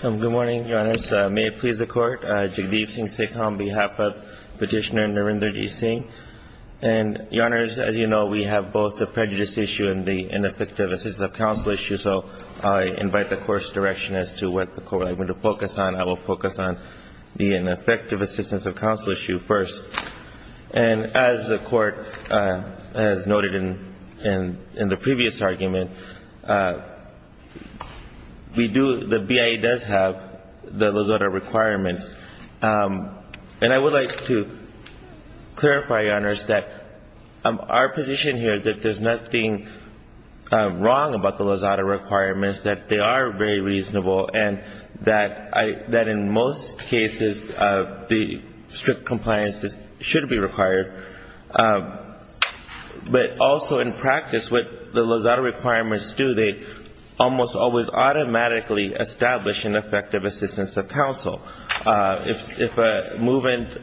Good morning, Your Honors. May it please the Court. Jagdeep Singh Sikham on behalf of Petitioner Narinderji Singh. And Your Honors, as you know, we have both the prejudice issue and the ineffective assistance of counsel issue. So I invite the Court's direction as to what the Court is going to focus on. I will focus on the ineffective assistance of counsel issue first. And as the Court has noted in the previous argument, the BIA does have the LAZADA requirements. And I would like to clarify, Your Honors, that our position here is that there's nothing wrong about the LAZADA requirements, that they are very reasonable, and that in most cases the strict compliance should be required. But also in practice, what the LAZADA requirements do, they almost always automatically establish an effective assistance of counsel. If a movement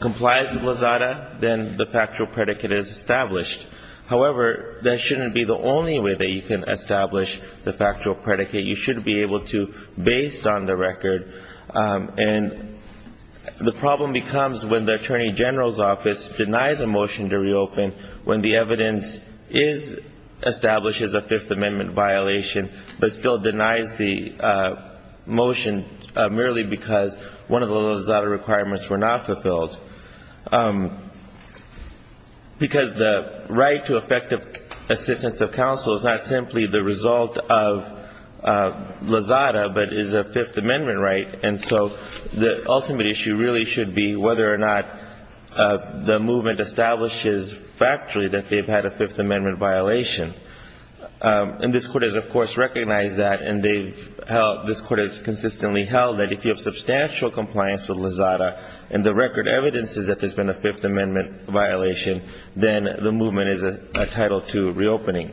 complies with LAZADA, then the factual predicate is established. However, that shouldn't be the only way that you can establish the factual predicate. You should be able to based on the record. And the problem becomes when the Attorney General's Office denies a motion to reopen when the evidence is established as a Fifth Amendment violation, but still denies the motion merely because one of the LAZADA requirements were not fulfilled. Because the right to effective assistance of counsel is not simply the result of LAZADA, but is a Fifth Amendment right. And so the ultimate issue really should be whether or not the movement establishes factually that they've had a Fifth Amendment violation. And this Court has, of course, recognized that, and this Court has consistently held that if you have substantial compliance with LAZADA and the record evidences that there's been a Fifth Amendment violation, then the movement is entitled to reopening.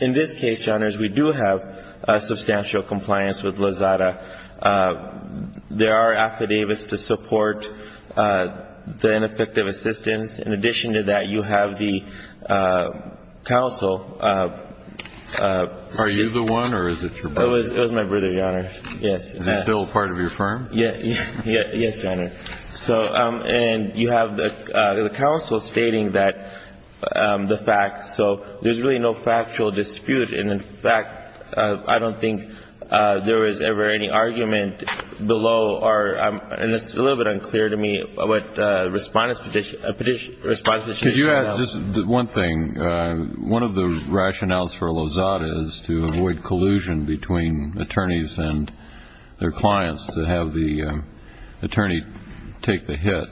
In this case, Your Honors, we do have substantial compliance with LAZADA. There are affidavits to support the ineffective assistance. In addition to that, you have the counsel. Are you the one, or is it your brother? It was my brother, Your Honors. Yes. Is he still a part of your firm? Yes, Your Honor. And you have the counsel stating the facts, so there's really no factual dispute. And, in fact, I don't think there was ever any argument below, and it's a little bit unclear to me what Respondent's Petition, Respondent's Petition. Could you add just one thing? One of the rationales for LAZADA is to avoid collusion between attorneys and their clients, to have the attorney take the hit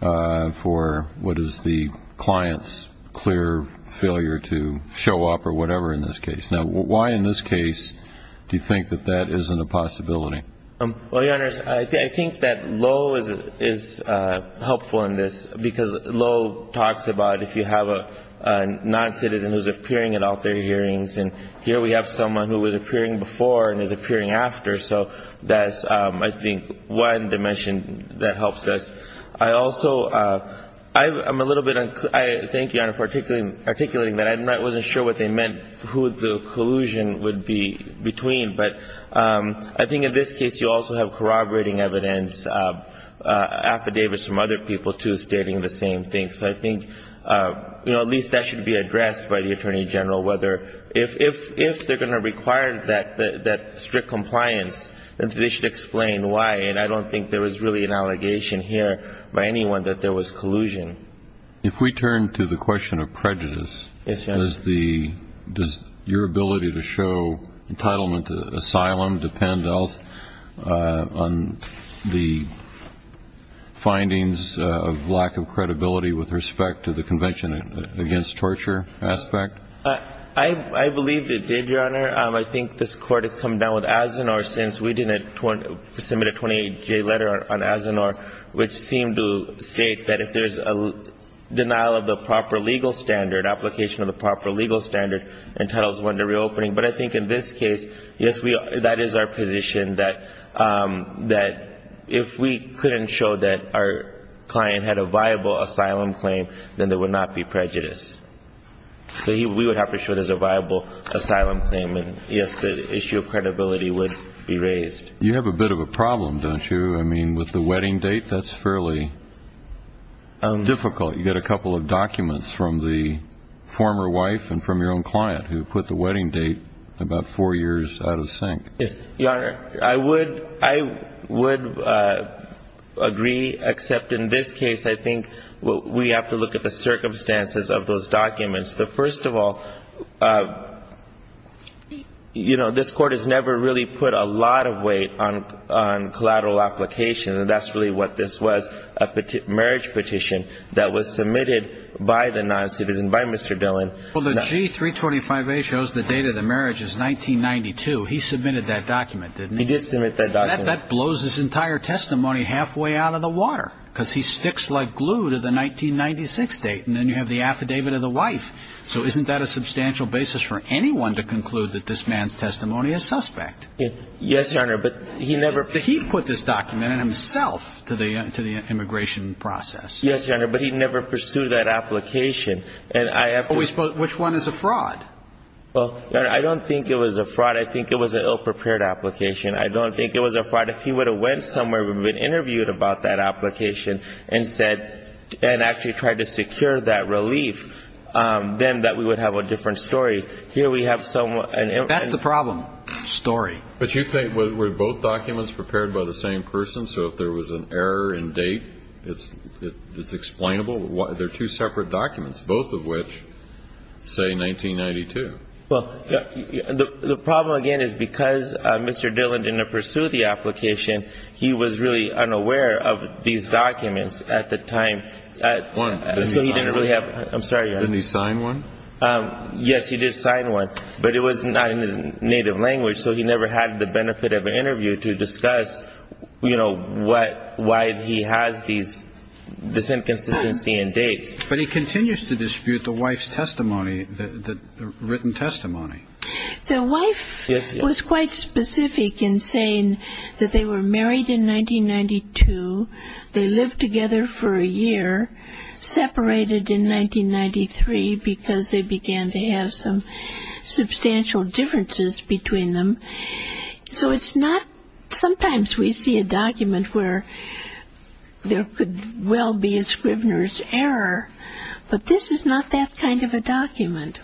for what is the client's clear failure to show up or whatever in this case. Now, why in this case do you think that that isn't a possibility? Well, Your Honors, I think that Lowe is helpful in this because Lowe talks about if you have a non-citizen who's appearing at all their hearings, and here we have someone who was appearing before and is appearing after. So that's, I think, one dimension that helps us. I also am a little bit unclear. Thank you, Your Honor, for articulating that. I wasn't sure what they meant, who the collusion would be between. But I think in this case you also have corroborating evidence, affidavits from other people, too, stating the same thing. So I think, you know, at least that should be addressed by the Attorney General, whether if they're going to require that strict compliance, then they should explain why. And I don't think there was really an allegation here by anyone that there was collusion. If we turn to the question of prejudice, does your ability to show entitlement to asylum depend on the findings of lack of credibility with respect to the Convention against Torture aspect? I believe it did, Your Honor. I think this Court has come down with Azenor since we didn't submit a 28-J letter on Azenor, which seemed to state that if there's a denial of the proper legal standard, application of the proper legal standard, entitles one to reopening. But I think in this case, yes, that is our position, that if we couldn't show that our client had a viable asylum claim, then there would not be prejudice. So we would have to show there's a viable asylum claim, and, yes, the issue of credibility would be raised. You have a bit of a problem, don't you? I mean, with the wedding date, that's fairly difficult. You get a couple of documents from the former wife and from your own client who put the wedding date about four years out of sync. Yes, Your Honor. I would agree, except in this case, I think we have to look at the circumstances of those documents. First of all, you know, this Court has never really put a lot of weight on collateral applications, and that's really what this was, a marriage petition that was submitted by the noncitizen, by Mr. Dillon. Well, the G-325A shows the date of the marriage is 1992. He submitted that document, didn't he? He did submit that document. That blows his entire testimony halfway out of the water because he sticks like glue to the 1996 date, and then you have the affidavit of the wife. So isn't that a substantial basis for anyone to conclude that this man's testimony is suspect? Yes, Your Honor, but he never ---- He put this document in himself to the immigration process. Yes, Your Honor, but he never pursued that application, and I have to ---- Which one is a fraud? Well, Your Honor, I don't think it was a fraud. I think it was an ill-prepared application. I don't think it was a fraud. If he would have went somewhere, would have been interviewed about that application and said and actually tried to secure that relief, then that we would have a different story. Here we have some ---- That's the problem, story. But you think were both documents prepared by the same person, so if there was an error in date, it's explainable? They're two separate documents, both of which say 1992. Well, the problem, again, is because Mr. Dillon didn't pursue the application, he was really unaware of these documents at the time. One. So he didn't really have ---- I'm sorry. Didn't he sign one? Yes, he did sign one, but it was not in his native language, so he never had the benefit of an interview to discuss, you know, what ---- why he has these ---- this inconsistency in dates. But he continues to dispute the wife's testimony, the written testimony. The wife was quite specific in saying that they were married in 1992, they lived together for a year, separated in 1993 because they began to have some substantial differences between them. So it's not ---- sometimes we see a document where there could well be a Scrivener's error, but this is not that kind of a document.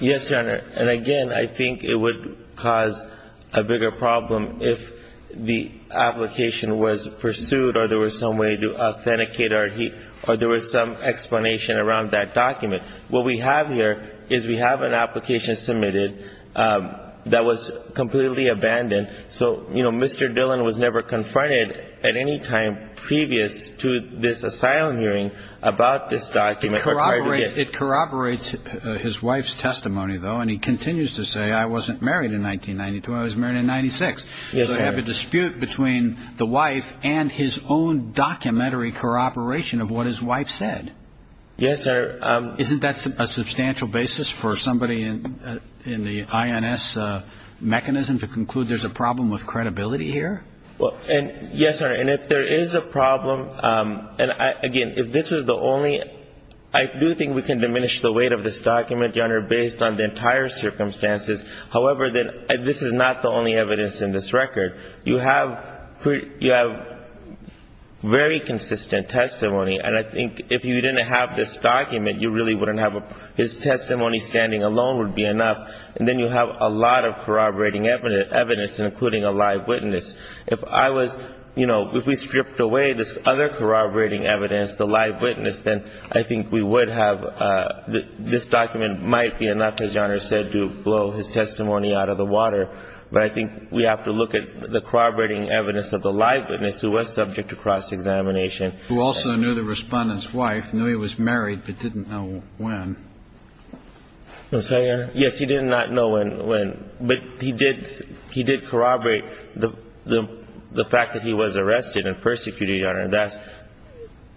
Yes, Your Honor. And, again, I think it would cause a bigger problem if the application was pursued or there was some way to authenticate or there was some explanation around that document. What we have here is we have an application submitted that was completely abandoned. So, you know, Mr. Dillon was never confronted at any time previous to this asylum hearing about this document. It corroborates his wife's testimony, though, and he continues to say, I wasn't married in 1992, I was married in 1996. Yes, sir. So you have a dispute between the wife and his own documentary corroboration of what his wife said. Yes, sir. Isn't that a substantial basis for somebody in the INS mechanism to conclude there's a problem with credibility here? Yes, sir. And if there is a problem, and, again, if this was the only ---- I do think we can diminish the weight of this document, Your Honor, based on the entire circumstances. However, this is not the only evidence in this record. You have very consistent testimony. And I think if you didn't have this document, you really wouldn't have a ---- his testimony standing alone would be enough. And then you have a lot of corroborating evidence, including a live witness. If I was ---- you know, if we stripped away this other corroborating evidence, the live witness, then I think we would have ---- this document might be enough, as Your Honor said, to blow his testimony out of the water. But I think we have to look at the corroborating evidence of the live witness who was subject to cross-examination. Who also knew the Respondent's wife, knew he was married, but didn't know when. Yes, Your Honor. Yes, he did not know when. But he did corroborate the fact that he was arrested and persecuted, Your Honor. That's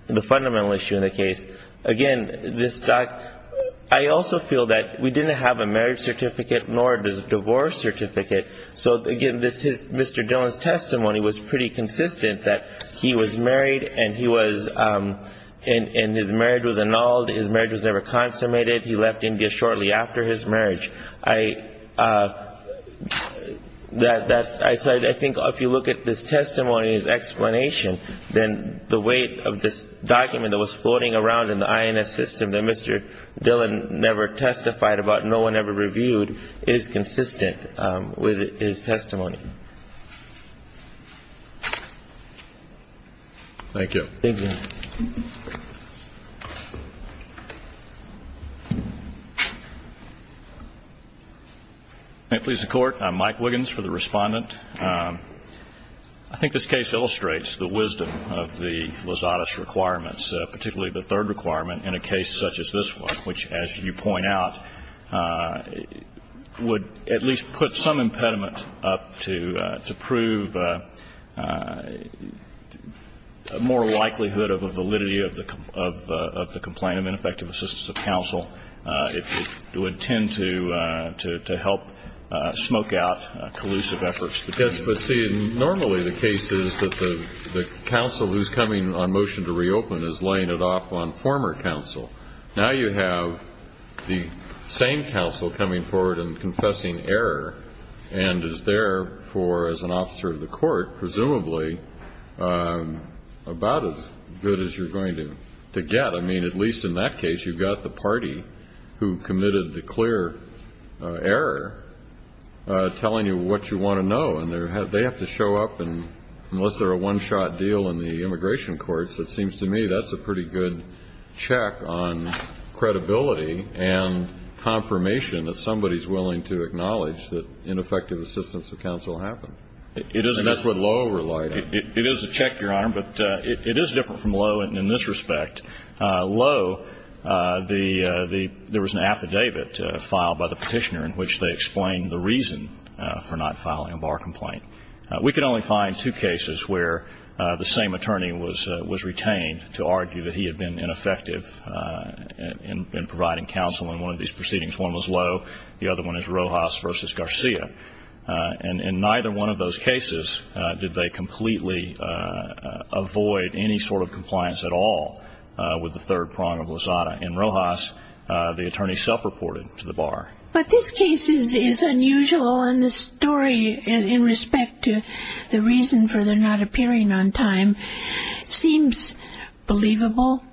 the fundamental issue in the case. Again, this doc ---- I also feel that we didn't have a marriage certificate nor a divorce certificate. So, again, this is Mr. Dillon's testimony was pretty consistent that he was married and he was ---- and his marriage was annulled. His marriage was never consummated. He left India shortly after his marriage. I ---- that's ---- I said I think if you look at this testimony and his explanation, then the weight of this document that was floating around in the INS system that Mr. Dillon never testified about, no one ever reviewed, is consistent with his testimony. Thank you. Thank you, Your Honor. Thank you. Please, the Court. I'm Mike Wiggins for the Respondent. I think this case illustrates the wisdom of the Lozada's requirements, particularly the third requirement in a case such as this one, which, as you point out, would at least put some impediment up to prove a more likelihood of a validity of the complaint of ineffective assistance of counsel. It would tend to help smoke out collusive efforts. Yes, but, see, normally the case is that the counsel who's coming on motion to reopen is laying it off on former counsel. Now you have the same counsel coming forward and confessing error, and is therefore, as an officer of the court, presumably about as good as you're going to get. I mean, at least in that case, you've got the party who committed the clear error telling you what you want to know. And they have to show up, and unless they're a one-shot deal in the immigration courts, it seems to me that's a pretty good check on credibility and confirmation that somebody's willing to acknowledge that ineffective assistance of counsel happened. And that's what Lowe relied on. It is a check, Your Honor, but it is different from Lowe in this respect. Lowe, there was an affidavit filed by the Petitioner in which they explained the reason for not filing a bar complaint. We could only find two cases where the same attorney was retained to argue that he had been ineffective in providing counsel in one of these proceedings. One was Lowe. The other one is Rojas v. Garcia. And in neither one of those cases did they completely avoid any sort of compliance at all with the third prong of Lozada. In Rojas, the attorney self-reported to the bar. But this case is unusual, and the story in respect to the reason for their not appearing on time seems believable,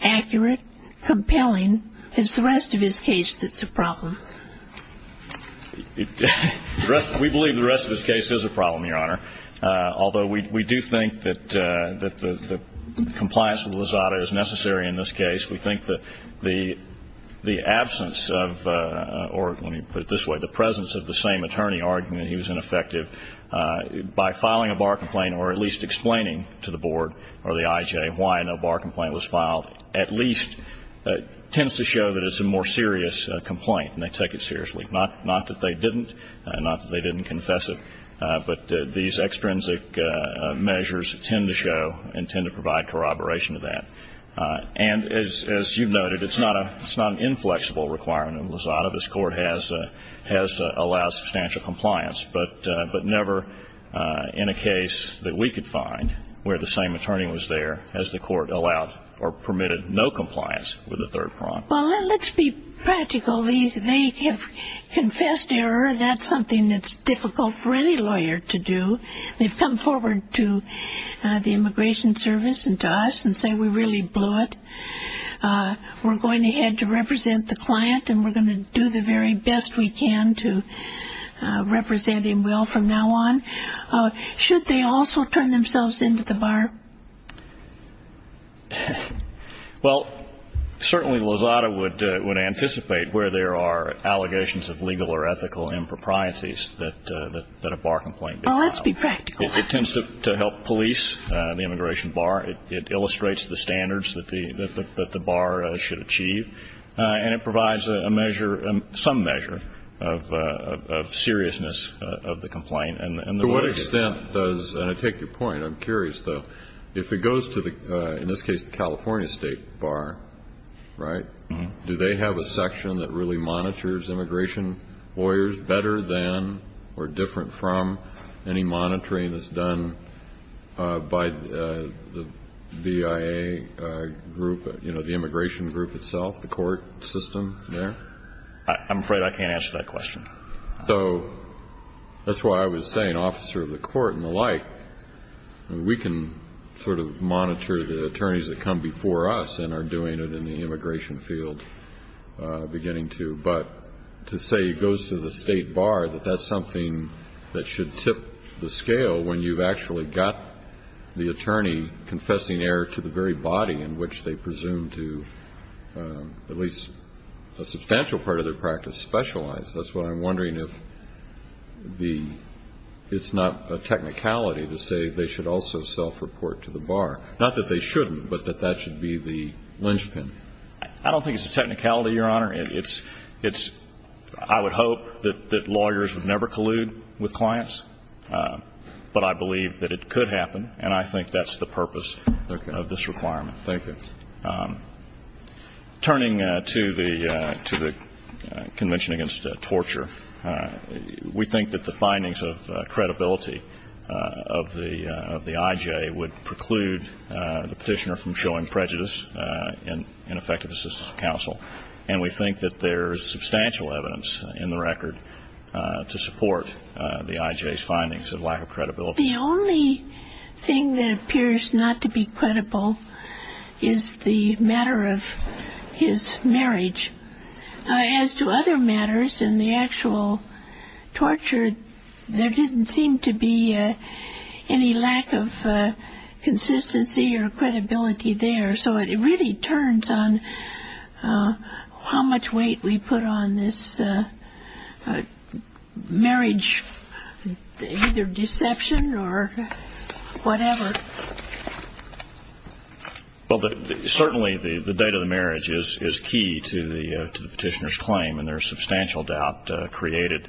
accurate, compelling. And it's the rest of his case that's a problem. We believe the rest of his case is a problem, Your Honor, although we do think that compliance with Lozada is necessary in this case. We think that the absence of, or let me put it this way, the presence of the same attorney arguing that he was ineffective by filing a bar complaint or at least explaining to the board or the IJ why no bar complaint was filed at least tends to show that it's a more serious complaint, and they take it seriously. Not that they didn't, not that they didn't confess it, but these extrinsic measures tend to show and tend to provide corroboration to that. And as you've noted, it's not an inflexible requirement in Lozada. This Court has allowed substantial compliance, but never in a case that we could find where the same attorney was there, has the Court allowed or permitted no compliance with the third prompt. Well, let's be practical. They have confessed error. That's something that's difficult for any lawyer to do. They've come forward to the Immigration Service and to us and say we really blew it. We're going ahead to represent the client and we're going to do the very best we can to represent him well from now on. Should they also turn themselves in to the bar? Well, certainly Lozada would anticipate where there are allegations of legal or ethical improprieties that a bar complaint is filed. Oh, let's be practical. It tends to help police the immigration bar. It illustrates the standards that the bar should achieve. And it provides a measure, some measure of seriousness of the complaint. To what extent does, and I take your point. I'm curious, though. If it goes to, in this case, the California State Bar, right, do they have a section that really monitors immigration lawyers better than or different from any monitoring that's done by the BIA group, you know, the immigration group itself, the court system there? I'm afraid I can't answer that question. So that's why I was saying officer of the court and the like, we can sort of monitor the attorneys that come before us and are doing it in the immigration field beginning to. But to say it goes to the State Bar, that that's something that should tip the scale when you've actually got the attorney confessing error to the very body in which they presume to, at least a substantial part of their practice, specialize. That's what I'm wondering if it's not a technicality to say they should also self-report to the bar. Not that they shouldn't, but that that should be the linchpin. I don't think it's a technicality, Your Honor. It's, I would hope that lawyers would never collude with clients, but I believe that it could happen, and I think that's the purpose of this requirement. Thank you. Turning to the Convention Against Torture, we think that the findings of credibility of the IJ would preclude the Petitioner from showing prejudice in effective assistance to counsel. And we think that there's substantial evidence in the record to support the IJ's findings of lack of credibility. The only thing that appears not to be credible is the matter of his marriage. As to other matters in the actual torture, there didn't seem to be any lack of consistency or credibility there. So it really turns on how much weight we put on this marriage, either deception or whatever. Well, certainly the date of the marriage is key to the Petitioner's claim, and there's substantial doubt created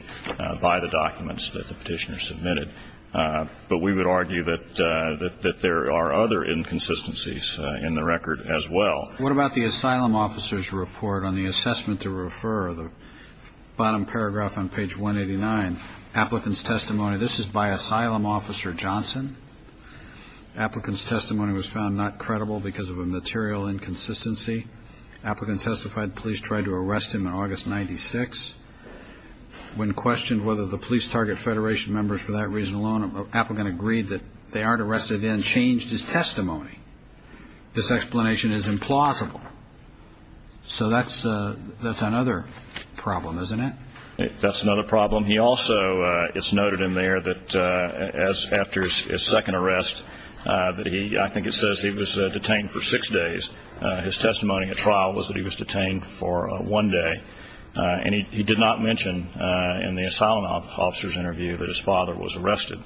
by the documents that the Petitioner submitted. But we would argue that there are other inconsistencies in the record as well. What about the asylum officer's report on the assessment to refer, the bottom paragraph on page 189? Applicant's testimony. This is by Asylum Officer Johnson. Applicant's testimony was found not credible because of a material inconsistency. Applicant testified police tried to arrest him on August 96. When questioned whether the police target Federation members for that reason alone, Applicant agreed that they aren't arrested and then changed his testimony. This explanation is implausible. So that's another problem, isn't it? That's another problem. He also, it's noted in there that after his second arrest, I think it says he was detained for six days. His testimony at trial was that he was detained for one day. And he did not mention in the asylum officer's interview that his father was arrested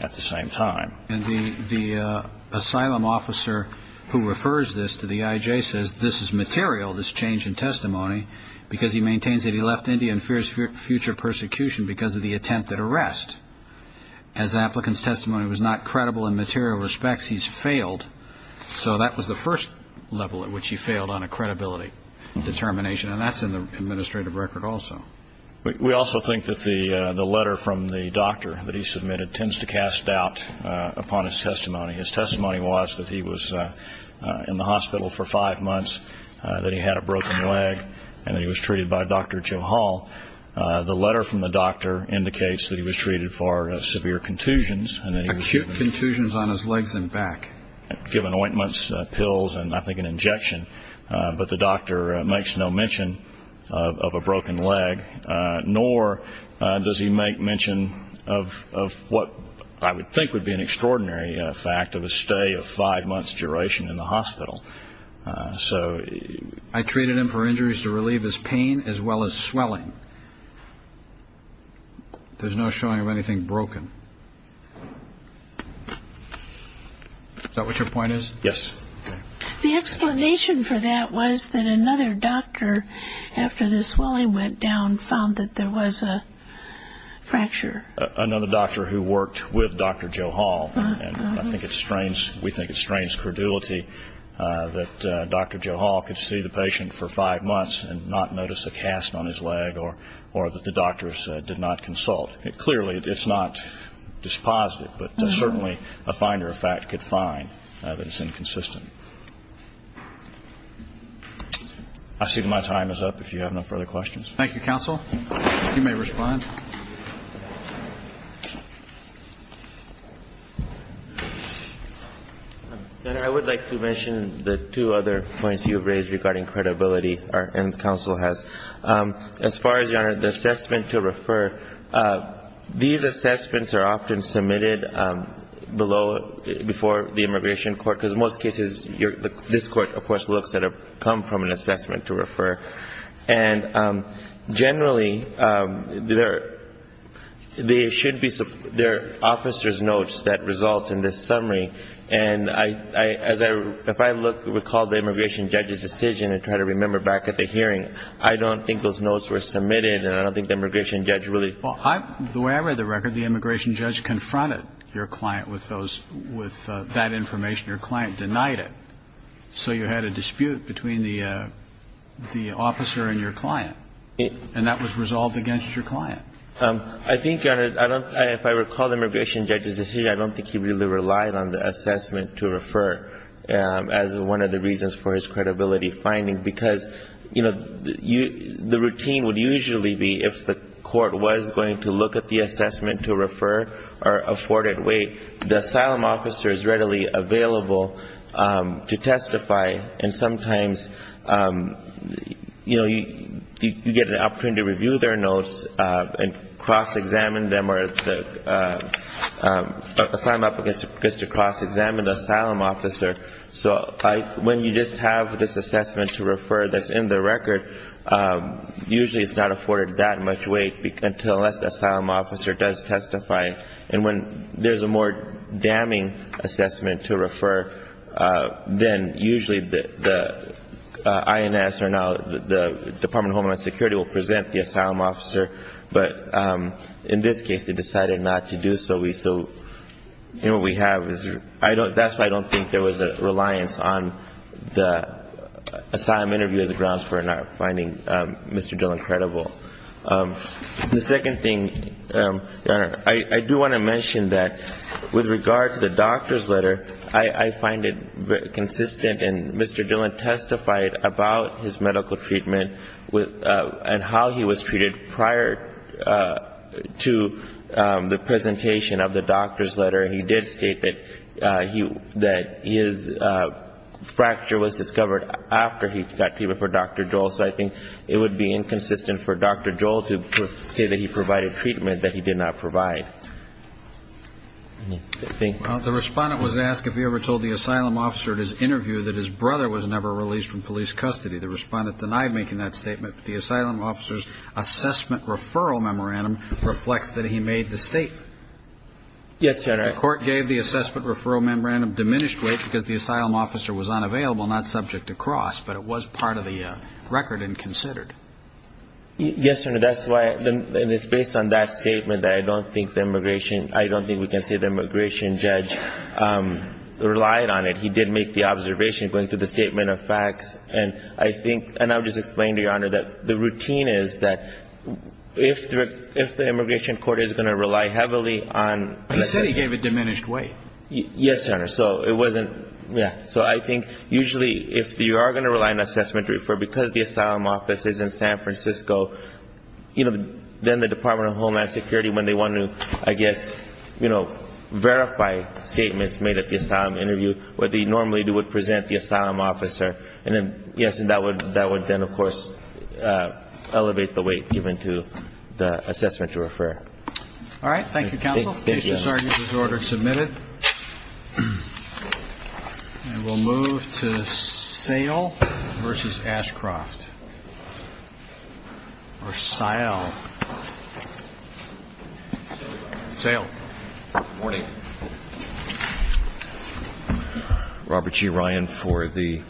at the same time. And the asylum officer who refers this to the IJ says this is material, this change in testimony, because he maintains that he left India and fears future persecution because of the attempt at arrest. As applicant's testimony was not credible in material respects, he's failed. So that was the first level at which he failed on a credibility determination. And that's in the administrative record also. We also think that the letter from the doctor that he submitted tends to cast doubt upon his testimony. His testimony was that he was in the hospital for five months, that he had a broken leg, and that he was treated by Dr. Joe Hall. The letter from the doctor indicates that he was treated for severe contusions. Acute contusions on his legs and back. Given ointments, pills, and I think an injection. But the doctor makes no mention of a broken leg, nor does he make mention of what I would think would be an extraordinary fact, of a stay of five months' duration in the hospital. I treated him for injuries to relieve his pain as well as swelling. There's no showing of anything broken. Is that what your point is? Yes. The explanation for that was that another doctor, after the swelling went down, found that there was a fracture. Another doctor who worked with Dr. Joe Hall. And I think it strains, we think it strains credulity that Dr. Joe Hall could see the patient for five months and not notice a cast on his leg or that the doctors did not consult. Clearly, it's not dispositive, but certainly a finder of fact could find that it's inconsistent. I see that my time is up, if you have no further questions. Thank you, counsel. You may respond. Your Honor, I would like to mention the two other points you've raised regarding credibility and counsel has. As far as, Your Honor, the assessment to refer, these assessments are often submitted below, before the immigration court, because most cases this court, of course, looks at have come from an assessment to refer. And generally, they should be, they're officer's notes that result in this summary. And as I, if I look, recall the immigration judge's decision and try to remember back at the hearing, I don't think those notes were submitted and I don't think the immigration judge really. Well, the way I read the record, the immigration judge confronted your client with those, with that information. Your client denied it. So you had a dispute between the officer and your client. And that was resolved against your client. I think, Your Honor, I don't, if I recall the immigration judge's decision, I don't think he really relied on the assessment to refer as one of the reasons for his credibility finding, because, you know, the routine would usually be, if the court was going to look at the assessment to refer or afford it, wait, the asylum officer is readily available to testify. And sometimes, you know, you get an opportunity to review their notes and cross-examine them or the asylum applicant gets to cross-examine the asylum officer. So when you just have this assessment to refer that's in the record, usually it's not afforded that much weight until the asylum officer does testify. And when there's a more damning assessment to refer, then usually the INS or now the Department of Homeland Security will present the asylum officer. But in this case, they decided not to do so. So, you know, what we have is I don't, that's why I don't think there was a reliance on the asylum interview as a grounds for not finding Mr. Dillon credible. The second thing, Your Honor, I do want to mention that with regard to the doctor's letter, I find it consistent and Mr. Dillon testified about his medical treatment and how he was treated prior to the presentation of the doctor's letter. He did state that his fracture was discovered after he got treatment for Dr. Dole. So I think it would be inconsistent for Dr. Dole to say that he provided treatment that he did not provide. Thank you. The Respondent was asked if he ever told the asylum officer at his interview that his brother was never released from police custody. The Respondent denied making that statement, but the asylum officer's assessment referral memorandum reflects that he made the statement. Yes, Your Honor. The court gave the assessment referral memorandum diminished weight because the asylum officer was unavailable, not subject to cross, but it was part of the record and considered. Yes, Your Honor. That's why, and it's based on that statement that I don't think the immigration, I don't think we can say the immigration judge relied on it. He did make the observation going through the statement of facts, and I think, and I'll just explain to Your Honor that the routine is that if the immigration court is going to rely heavily on... He said he gave it diminished weight. Yes, Your Honor. So it wasn't, yeah, so I think usually if you are going to rely on assessment referral because the asylum office is in San Francisco, you know, then the Department of Homeland Security, when they want to, I guess, you know, verify statements made at the asylum interview, what they normally do would present the asylum officer, and then, yes, and that would then, of course, elevate the weight given to the assessment referral. Thank you, counsel. Thank you, Your Honor. This is order submitted. And we'll move to Sayle versus Ashcroft. Or Sayle. Sayle. Good morning. Robert G. Ryan for the...